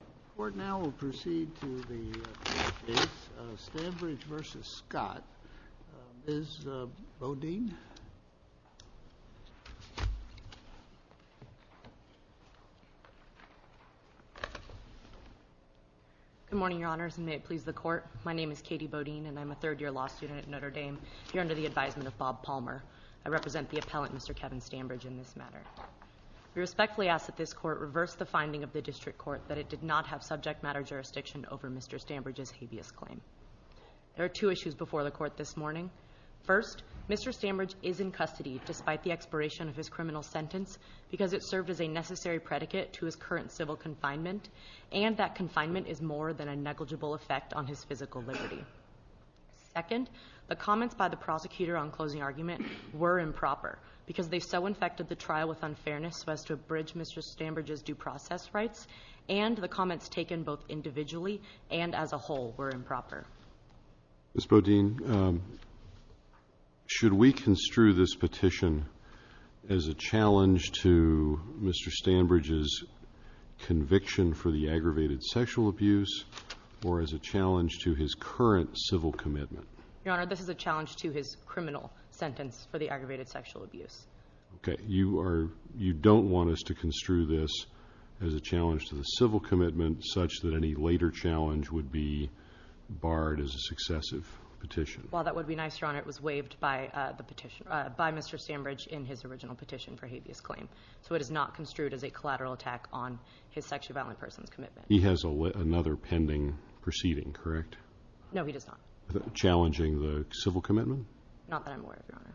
The Court now will proceed to the court case, Stanbridge v. Scott. Ms. Bodine? Good morning, Your Honors, and may it please the Court. My name is Katie Bodine, and I'm a third-year law student at Notre Dame, here under the advisement of Bob Palmer. I represent the appellant, Mr. Kevin Stanbridge, in this matter. We respectfully ask that this Court reverse the finding of the District Court that it did not have subject matter jurisdiction over Mr. Stanbridge's habeas claim. There are two issues before the Court this morning. First, Mr. Stanbridge is in custody despite the expiration of his criminal sentence because it served as a necessary predicate to his current civil confinement, and that confinement is more than a negligible effect on his physical liberty. Second, the comments by the prosecutor on closing argument were improper because they so infected the trial with unfairness so as to abridge Mr. Stanbridge's due process rights, and the comments taken both individually and as a whole were improper. Ms. Bodine, should we construe this petition as a challenge to Mr. Stanbridge's conviction for the aggravated sexual abuse or as a challenge to his current civil commitment? Your Honor, this is a challenge to his criminal sentence for the aggravated sexual abuse. Okay. You don't want us to construe this as a challenge to the civil commitment such that any later challenge would be barred as a successive petition? While that would be nice, Your Honor, it was waived by Mr. Stanbridge in his original petition for habeas claim, so it is not construed as a collateral attack on his sexually violent person's commitment. He has another pending proceeding, correct? No, he does not. Challenging the civil commitment? Not that I'm aware of, Your Honor.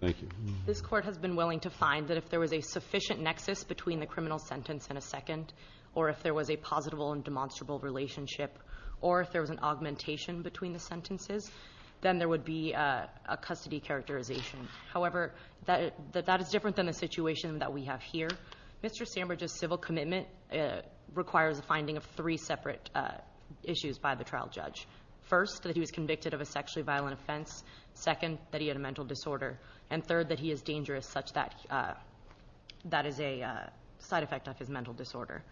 Thank you. This Court has been willing to find that if there was a sufficient nexus between the criminal sentence and a second or if there was a positable and demonstrable relationship or if there was an augmentation between the sentences, then there would be a custody characterization. However, that is different than the situation that we have here. Mr. Stanbridge's civil commitment requires a finding of three separate issues by the trial judge. First, that he was convicted of a sexually violent offense. Second, that he had a mental disorder. And third, that he is dangerous such that that is a side effect of his mental disorder.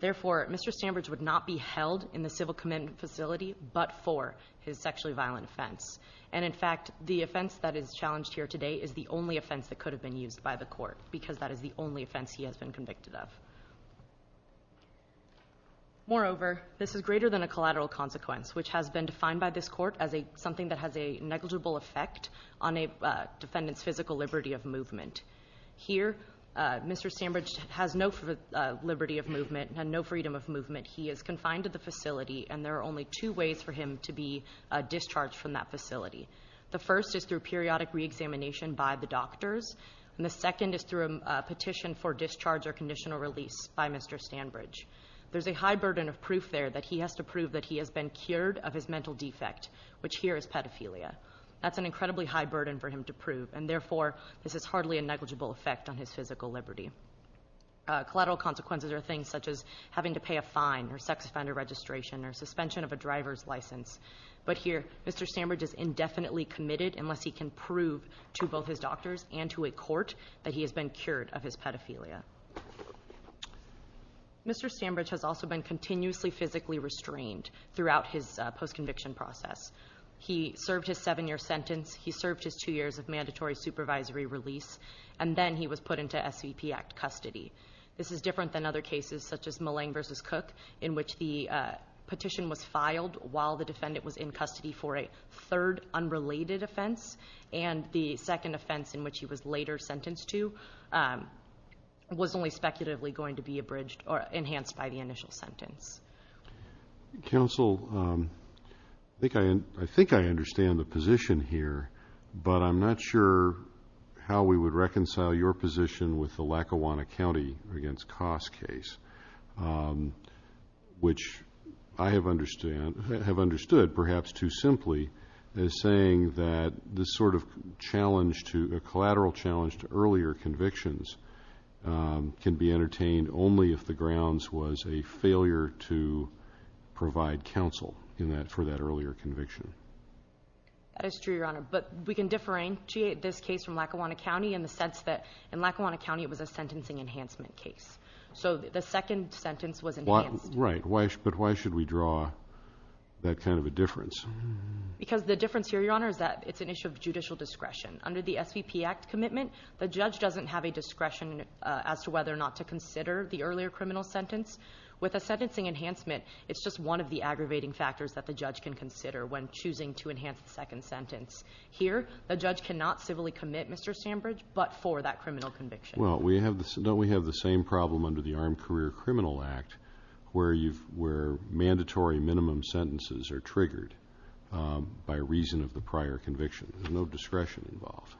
Therefore, Mr. Stanbridge would not be held in the civil commitment facility but for his sexually violent offense. And, in fact, the offense that is challenged here today is the only offense that could have been used by the Court because that is the only offense he has been convicted of. Moreover, this is greater than a collateral consequence, which has been defined by this Court as something that has a negligible effect on a defendant's physical liberty of movement. Here, Mr. Stanbridge has no liberty of movement and no freedom of movement. He is confined to the facility, and there are only two ways for him to be discharged from that facility. The first is through periodic reexamination by the doctors, and the second is through a petition for discharge or conditional release by Mr. Stanbridge. There's a high burden of proof there that he has to prove that he has been cured of his mental defect, which here is pedophilia. That's an incredibly high burden for him to prove, and therefore this is hardly a negligible effect on his physical liberty. Collateral consequences are things such as having to pay a fine or sex offender registration or suspension of a driver's license. But here, Mr. Stanbridge is indefinitely committed unless he can prove to both his doctors and to a court that he has been cured of his pedophilia. Mr. Stanbridge has also been continuously physically restrained throughout his post-conviction process. He served his seven-year sentence, he served his two years of mandatory supervisory release, and then he was put into SVP Act custody. This is different than other cases such as Mullane v. Cook, in which the petition was filed while the defendant was in custody for a third unrelated offense, and the second offense in which he was later sentenced to was only speculatively going to be abridged or enhanced by the initial sentence. Counsel, I think I understand the position here, but I'm not sure how we would reconcile your position with the Lackawanna County against Coss case, which I have understood, perhaps too simply, as saying that this sort of challenge to a collateral challenge to earlier convictions can be entertained only if the grounds was a failure to provide counsel for that earlier conviction. That is true, Your Honor, but we can differentiate this case from Lackawanna County in the sense that in Lackawanna County it was a sentencing enhancement case. So the second sentence was enhanced. Right, but why should we draw that kind of a difference? Because the difference here, Your Honor, is that it's an issue of judicial discretion. Under the SVP Act commitment, the judge doesn't have a discretion as to whether or not to consider the earlier criminal sentence. With a sentencing enhancement, it's just one of the aggravating factors that the judge can consider when choosing to enhance the second sentence. Here, the judge cannot civilly commit, Mr. Sandbridge, but for that criminal conviction. Well, we have the same problem under the Armed Career Criminal Act where mandatory minimum sentences are triggered by reason of the prior conviction. There's no discretion involved.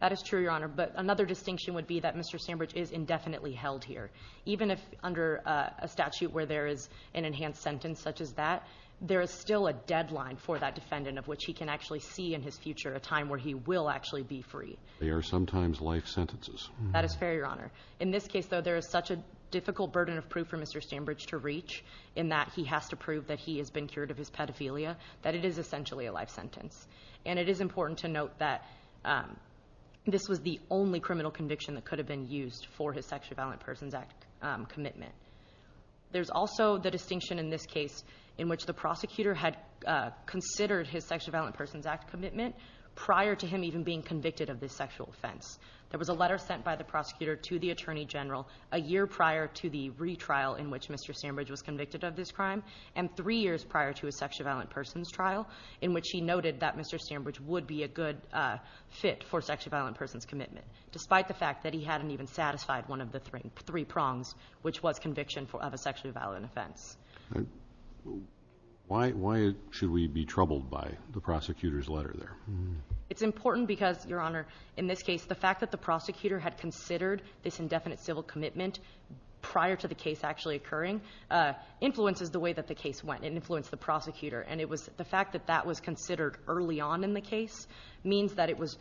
That is true, Your Honor, but another distinction would be that Mr. Sandbridge is indefinitely held here. Even if under a statute where there is an enhanced sentence such as that, there is still a deadline for that defendant of which he can actually see in his future a time where he will actually be free. They are sometimes life sentences. That is fair, Your Honor. In this case, though, there is such a difficult burden of proof for Mr. Sandbridge to reach in that he has to prove that he has been cured of his pedophilia, that it is essentially a life sentence. And it is important to note that this was the only criminal conviction that could have been used for his Sexual Violence Persons Act commitment. There's also the distinction in this case in which the prosecutor had considered his Sexual Violence Persons Act commitment prior to him even being convicted of this sexual offense. There was a letter sent by the prosecutor to the Attorney General a year prior to the retrial in which Mr. Sandbridge was convicted of this crime and three years prior to his Sexual Violence Persons trial in which he noted that Mr. Sandbridge would be a good fit for Sexual Violence Persons commitment, despite the fact that he hadn't even satisfied one of the three prongs, which was conviction of a sexually violent offense. Why should we be troubled by the prosecutor's letter there? It's important because, Your Honor, in this case, the fact that the prosecutor had considered this indefinite civil commitment prior to the case actually occurring influences the way that the case went. It influenced the prosecutor. And it was the fact that that was considered early on in the case means that it was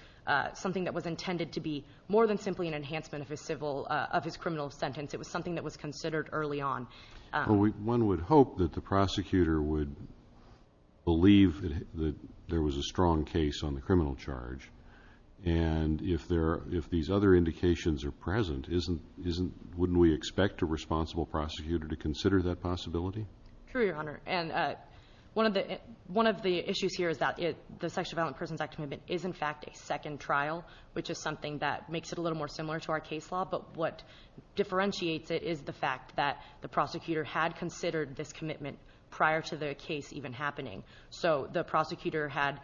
something that was intended to be more than simply an enhancement of his civil, of his criminal sentence. It was something that was considered early on. Well, one would hope that the prosecutor would believe that there was a strong case on the criminal charge. And if these other indications are present, wouldn't we expect a responsible prosecutor to consider that possibility? True, Your Honor. And one of the issues here is that the Sexual Violence Persons Act commitment is, in fact, a second trial, which is something that makes it a little more similar to our case law. But what differentiates it is the fact that the prosecutor had considered this commitment prior to the case even happening. So the prosecutor had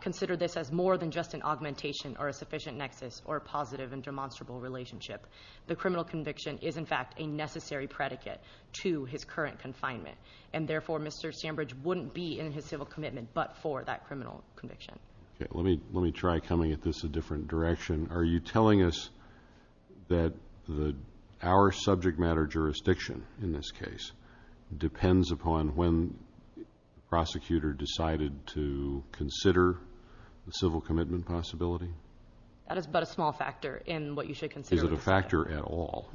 considered this as more than just an augmentation or a sufficient nexus or a positive and demonstrable relationship. The criminal conviction is, in fact, a necessary predicate to his current confinement. And, therefore, Mr. Sambridge wouldn't be in his civil commitment but for that criminal conviction. Okay. Let me try coming at this a different direction. Are you telling us that our subject matter jurisdiction, in this case, depends upon when the prosecutor decided to consider the civil commitment possibility? That is but a small factor in what you should consider. Is it a factor at all?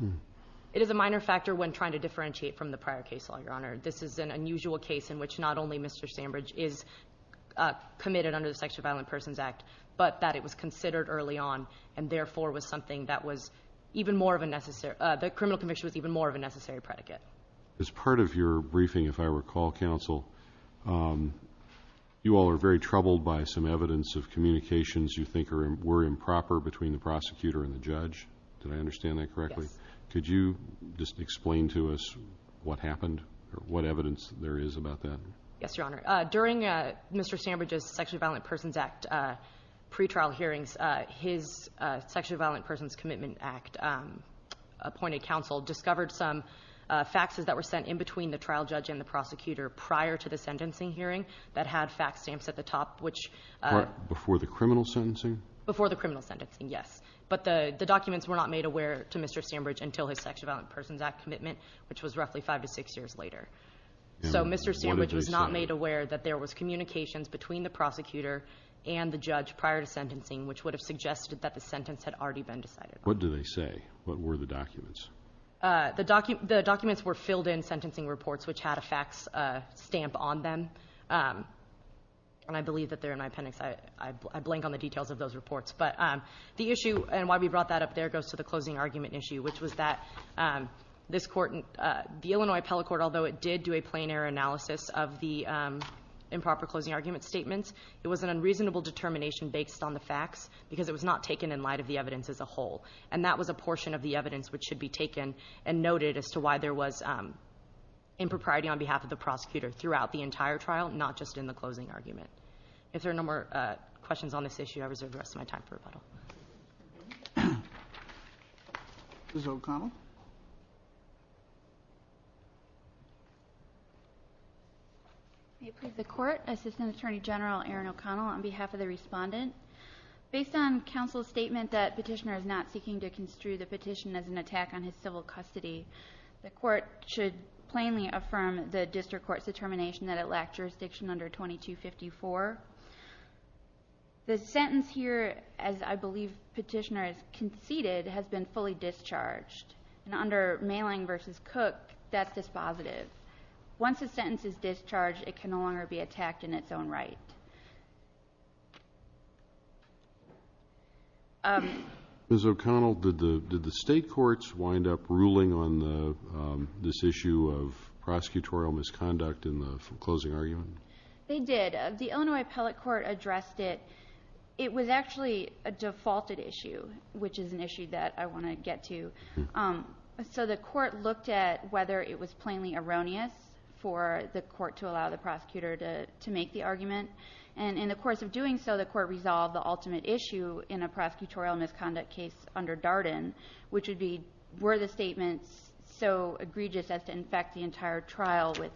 It is a minor factor when trying to differentiate from the prior case law, Your Honor. This is an unusual case in which not only Mr. Sambridge is committed under the Sexual Violence Persons Act but that it was considered early on and, therefore, was something that was even more of a necessary the criminal conviction was even more of a necessary predicate. As part of your briefing, if I recall, counsel, you all are very troubled by some evidence of communications you think were improper between the prosecutor and the judge. Did I understand that correctly? Yes. Could you just explain to us what happened or what evidence there is about that? Yes, Your Honor. During Mr. Sambridge's Sexual Violence Persons Act pretrial hearings, his Sexual Violence Persons Commitment Act appointed counsel discovered some faxes that were sent in between the trial judge and the prosecutor prior to the sentencing hearing that had fax stamps at the top which Before the criminal sentencing? Before the criminal sentencing, yes. But the documents were not made aware to Mr. Sambridge until his Sexual Violence Persons Act commitment which was roughly five to six years later. And what did they say? So Mr. Sambridge was not made aware that there was communications between the prosecutor and the judge prior to sentencing which would have suggested that the sentence had already been decided on. What did they say? What were the documents? The documents were filled in sentencing reports which had a fax stamp on them. And I believe that they're in my appendix. I blank on the details of those reports. But the issue and why we brought that up there goes to the closing argument issue which was that this court, the Illinois appellate court, although it did do a plain error analysis of the improper closing argument statements, it was an unreasonable determination based on the fax because it was not taken in light of the evidence as a whole. And that was a portion of the evidence which should be taken and noted as to why there was impropriety on behalf of the prosecutor throughout the entire trial, not just in the closing argument. If there are no more questions on this issue, I reserve the rest of my time for rebuttal. Ms. O'Connell. May it please the Court. Assistant Attorney General Erin O'Connell on behalf of the Respondent. Based on counsel's statement that Petitioner is not seeking to construe the petition as an attack on his civil custody, the Court should plainly affirm the district court's determination that it lacked jurisdiction under 2254. The sentence here, as I believe Petitioner has conceded, has been fully discharged. And under Mayling v. Cook, that's dispositive. Once a sentence is discharged, it can no longer be attacked in its own right. Ms. O'Connell, did the State courts wind up ruling on this issue of prosecutorial misconduct in the closing argument? They did. The Illinois Appellate Court addressed it. It was actually a defaulted issue, which is an issue that I want to get to. So the Court looked at whether it was plainly erroneous for the Court to allow the prosecutor to make the argument. And in the course of doing so, the Court resolved the ultimate issue in a prosecutorial misconduct case under Darden, which would be were the statements so egregious as to infect the entire trial with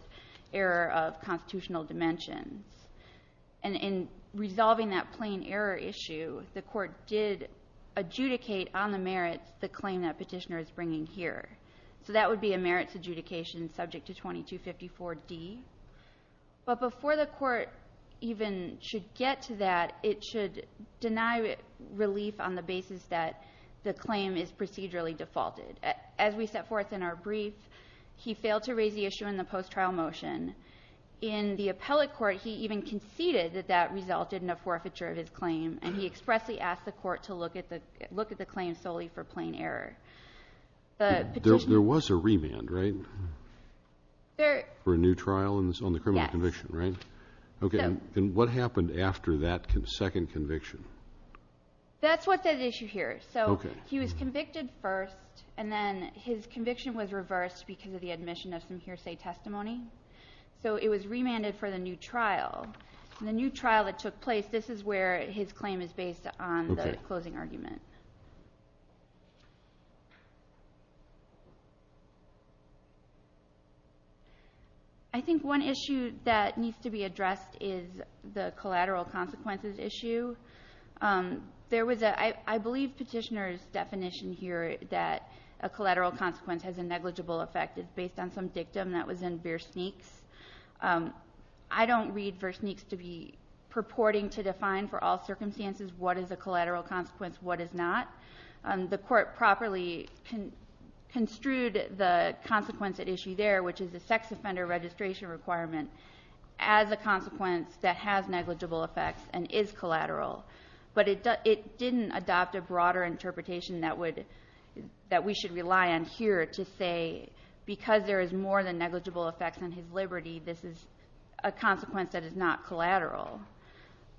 error of constitutional dimensions. And in resolving that plain error issue, the Court did adjudicate on the merits the claim that Petitioner is bringing here. So that would be a merits adjudication subject to 2254D. But before the Court even should get to that, it should deny relief on the basis that the claim is procedurally defaulted. As we set forth in our brief, he failed to raise the issue in the post-trial motion. In the Appellate Court, he even conceded that that resulted in a forfeiture of his claim, and he expressly asked the Court to look at the claim solely for plain error. There was a remand, right, for a new trial on the criminal conviction, right? Yes. Okay. And what happened after that second conviction? That's what's at issue here. So he was convicted first, and then his conviction was reversed because of the admission of some hearsay testimony. So it was remanded for the new trial. In the new trial that took place, this is where his claim is based on the closing argument. I think one issue that needs to be addressed is the collateral consequences issue. There was a — I believe Petitioner's definition here that a collateral consequence has a negligible effect is based on some dictum that was in Beersneaks. I don't read Beersneaks to be purporting to define for all circumstances The Court properly construed the consequence at issue there, which is a sex offender registration requirement, as a consequence that has negligible effects and is collateral. But it didn't adopt a broader interpretation that we should rely on here to say, because there is more than negligible effects on his liberty, this is a consequence that is not collateral.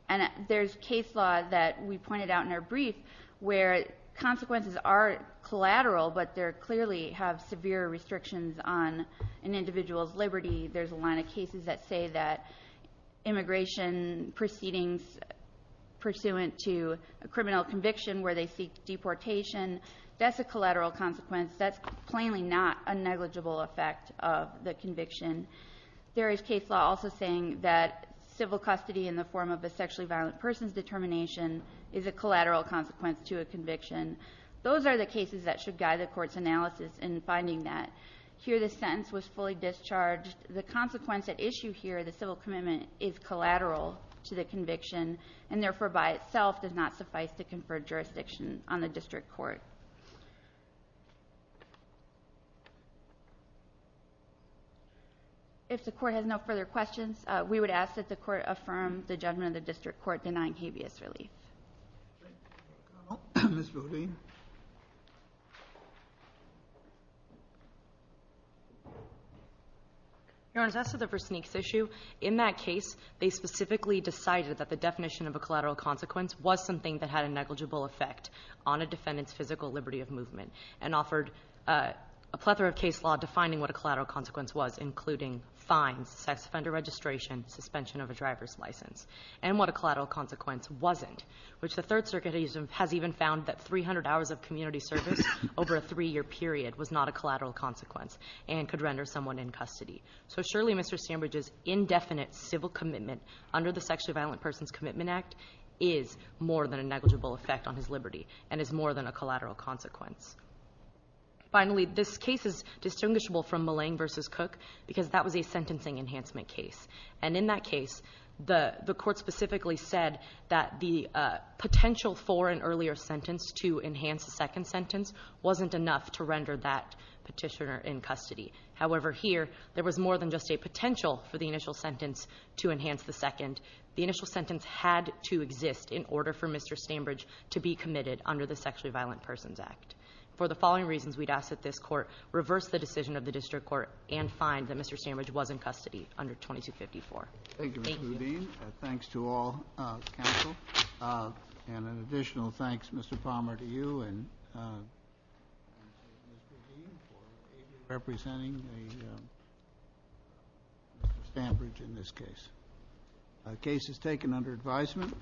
And there's case law that we pointed out in our brief where consequences are collateral, but they clearly have severe restrictions on an individual's liberty. There's a line of cases that say that immigration proceedings pursuant to a criminal conviction where they seek deportation, that's a collateral consequence. That's plainly not a negligible effect of the conviction. There is case law also saying that civil custody in the form of a sexually violent person's determination is a collateral consequence to a conviction. Those are the cases that should guide the Court's analysis in finding that. Here the sentence was fully discharged. The consequence at issue here, the civil commitment, is collateral to the conviction, and therefore by itself does not suffice to confer jurisdiction on the district court. If the Court has no further questions, we would ask that the Court affirm the judgment of the district court denying habeas relief. Ms. Rodin. Your Honor, as to the Versnick's issue, in that case, they specifically decided that the definition of a collateral consequence was something that had a negligible effect on a defendant's physical liberty of movement and offered a plethora of case law defining what a collateral consequence was, including fines, sex offender registration, suspension of a driver's license, and what a collateral consequence wasn't, which the Third Circuit has even found that 300 hours of community service over a three-year period was not a collateral consequence and could render someone in custody. So surely Mr. Sandbridge's indefinite civil commitment under the Sexually Violent Persons Commitment Act is more than a negligible effect on his liberty and is more than a collateral consequence. Finally, this case is distinguishable from Millang v. Cook because that was a sentencing enhancement case. And in that case, the Court specifically said that the potential for an earlier sentence to enhance a second sentence wasn't enough to render that Petitioner in custody. However, here, there was more than just a potential for the initial sentence to enhance the second. The initial sentence had to exist in order for Mr. Sandbridge to be committed under the Sexually Violent Persons Act. For the following reasons, we'd ask that this Court reverse the decision of the District Court and find that Mr. Sandbridge was in custody under 2254. Thank you. Thank you, Ms. Boudin. Thanks to all counsel. And an additional thanks, Mr. Palmer, to you and Ms. Boudin for representing Mr. Sandbridge in this case. The case is taken under advisement.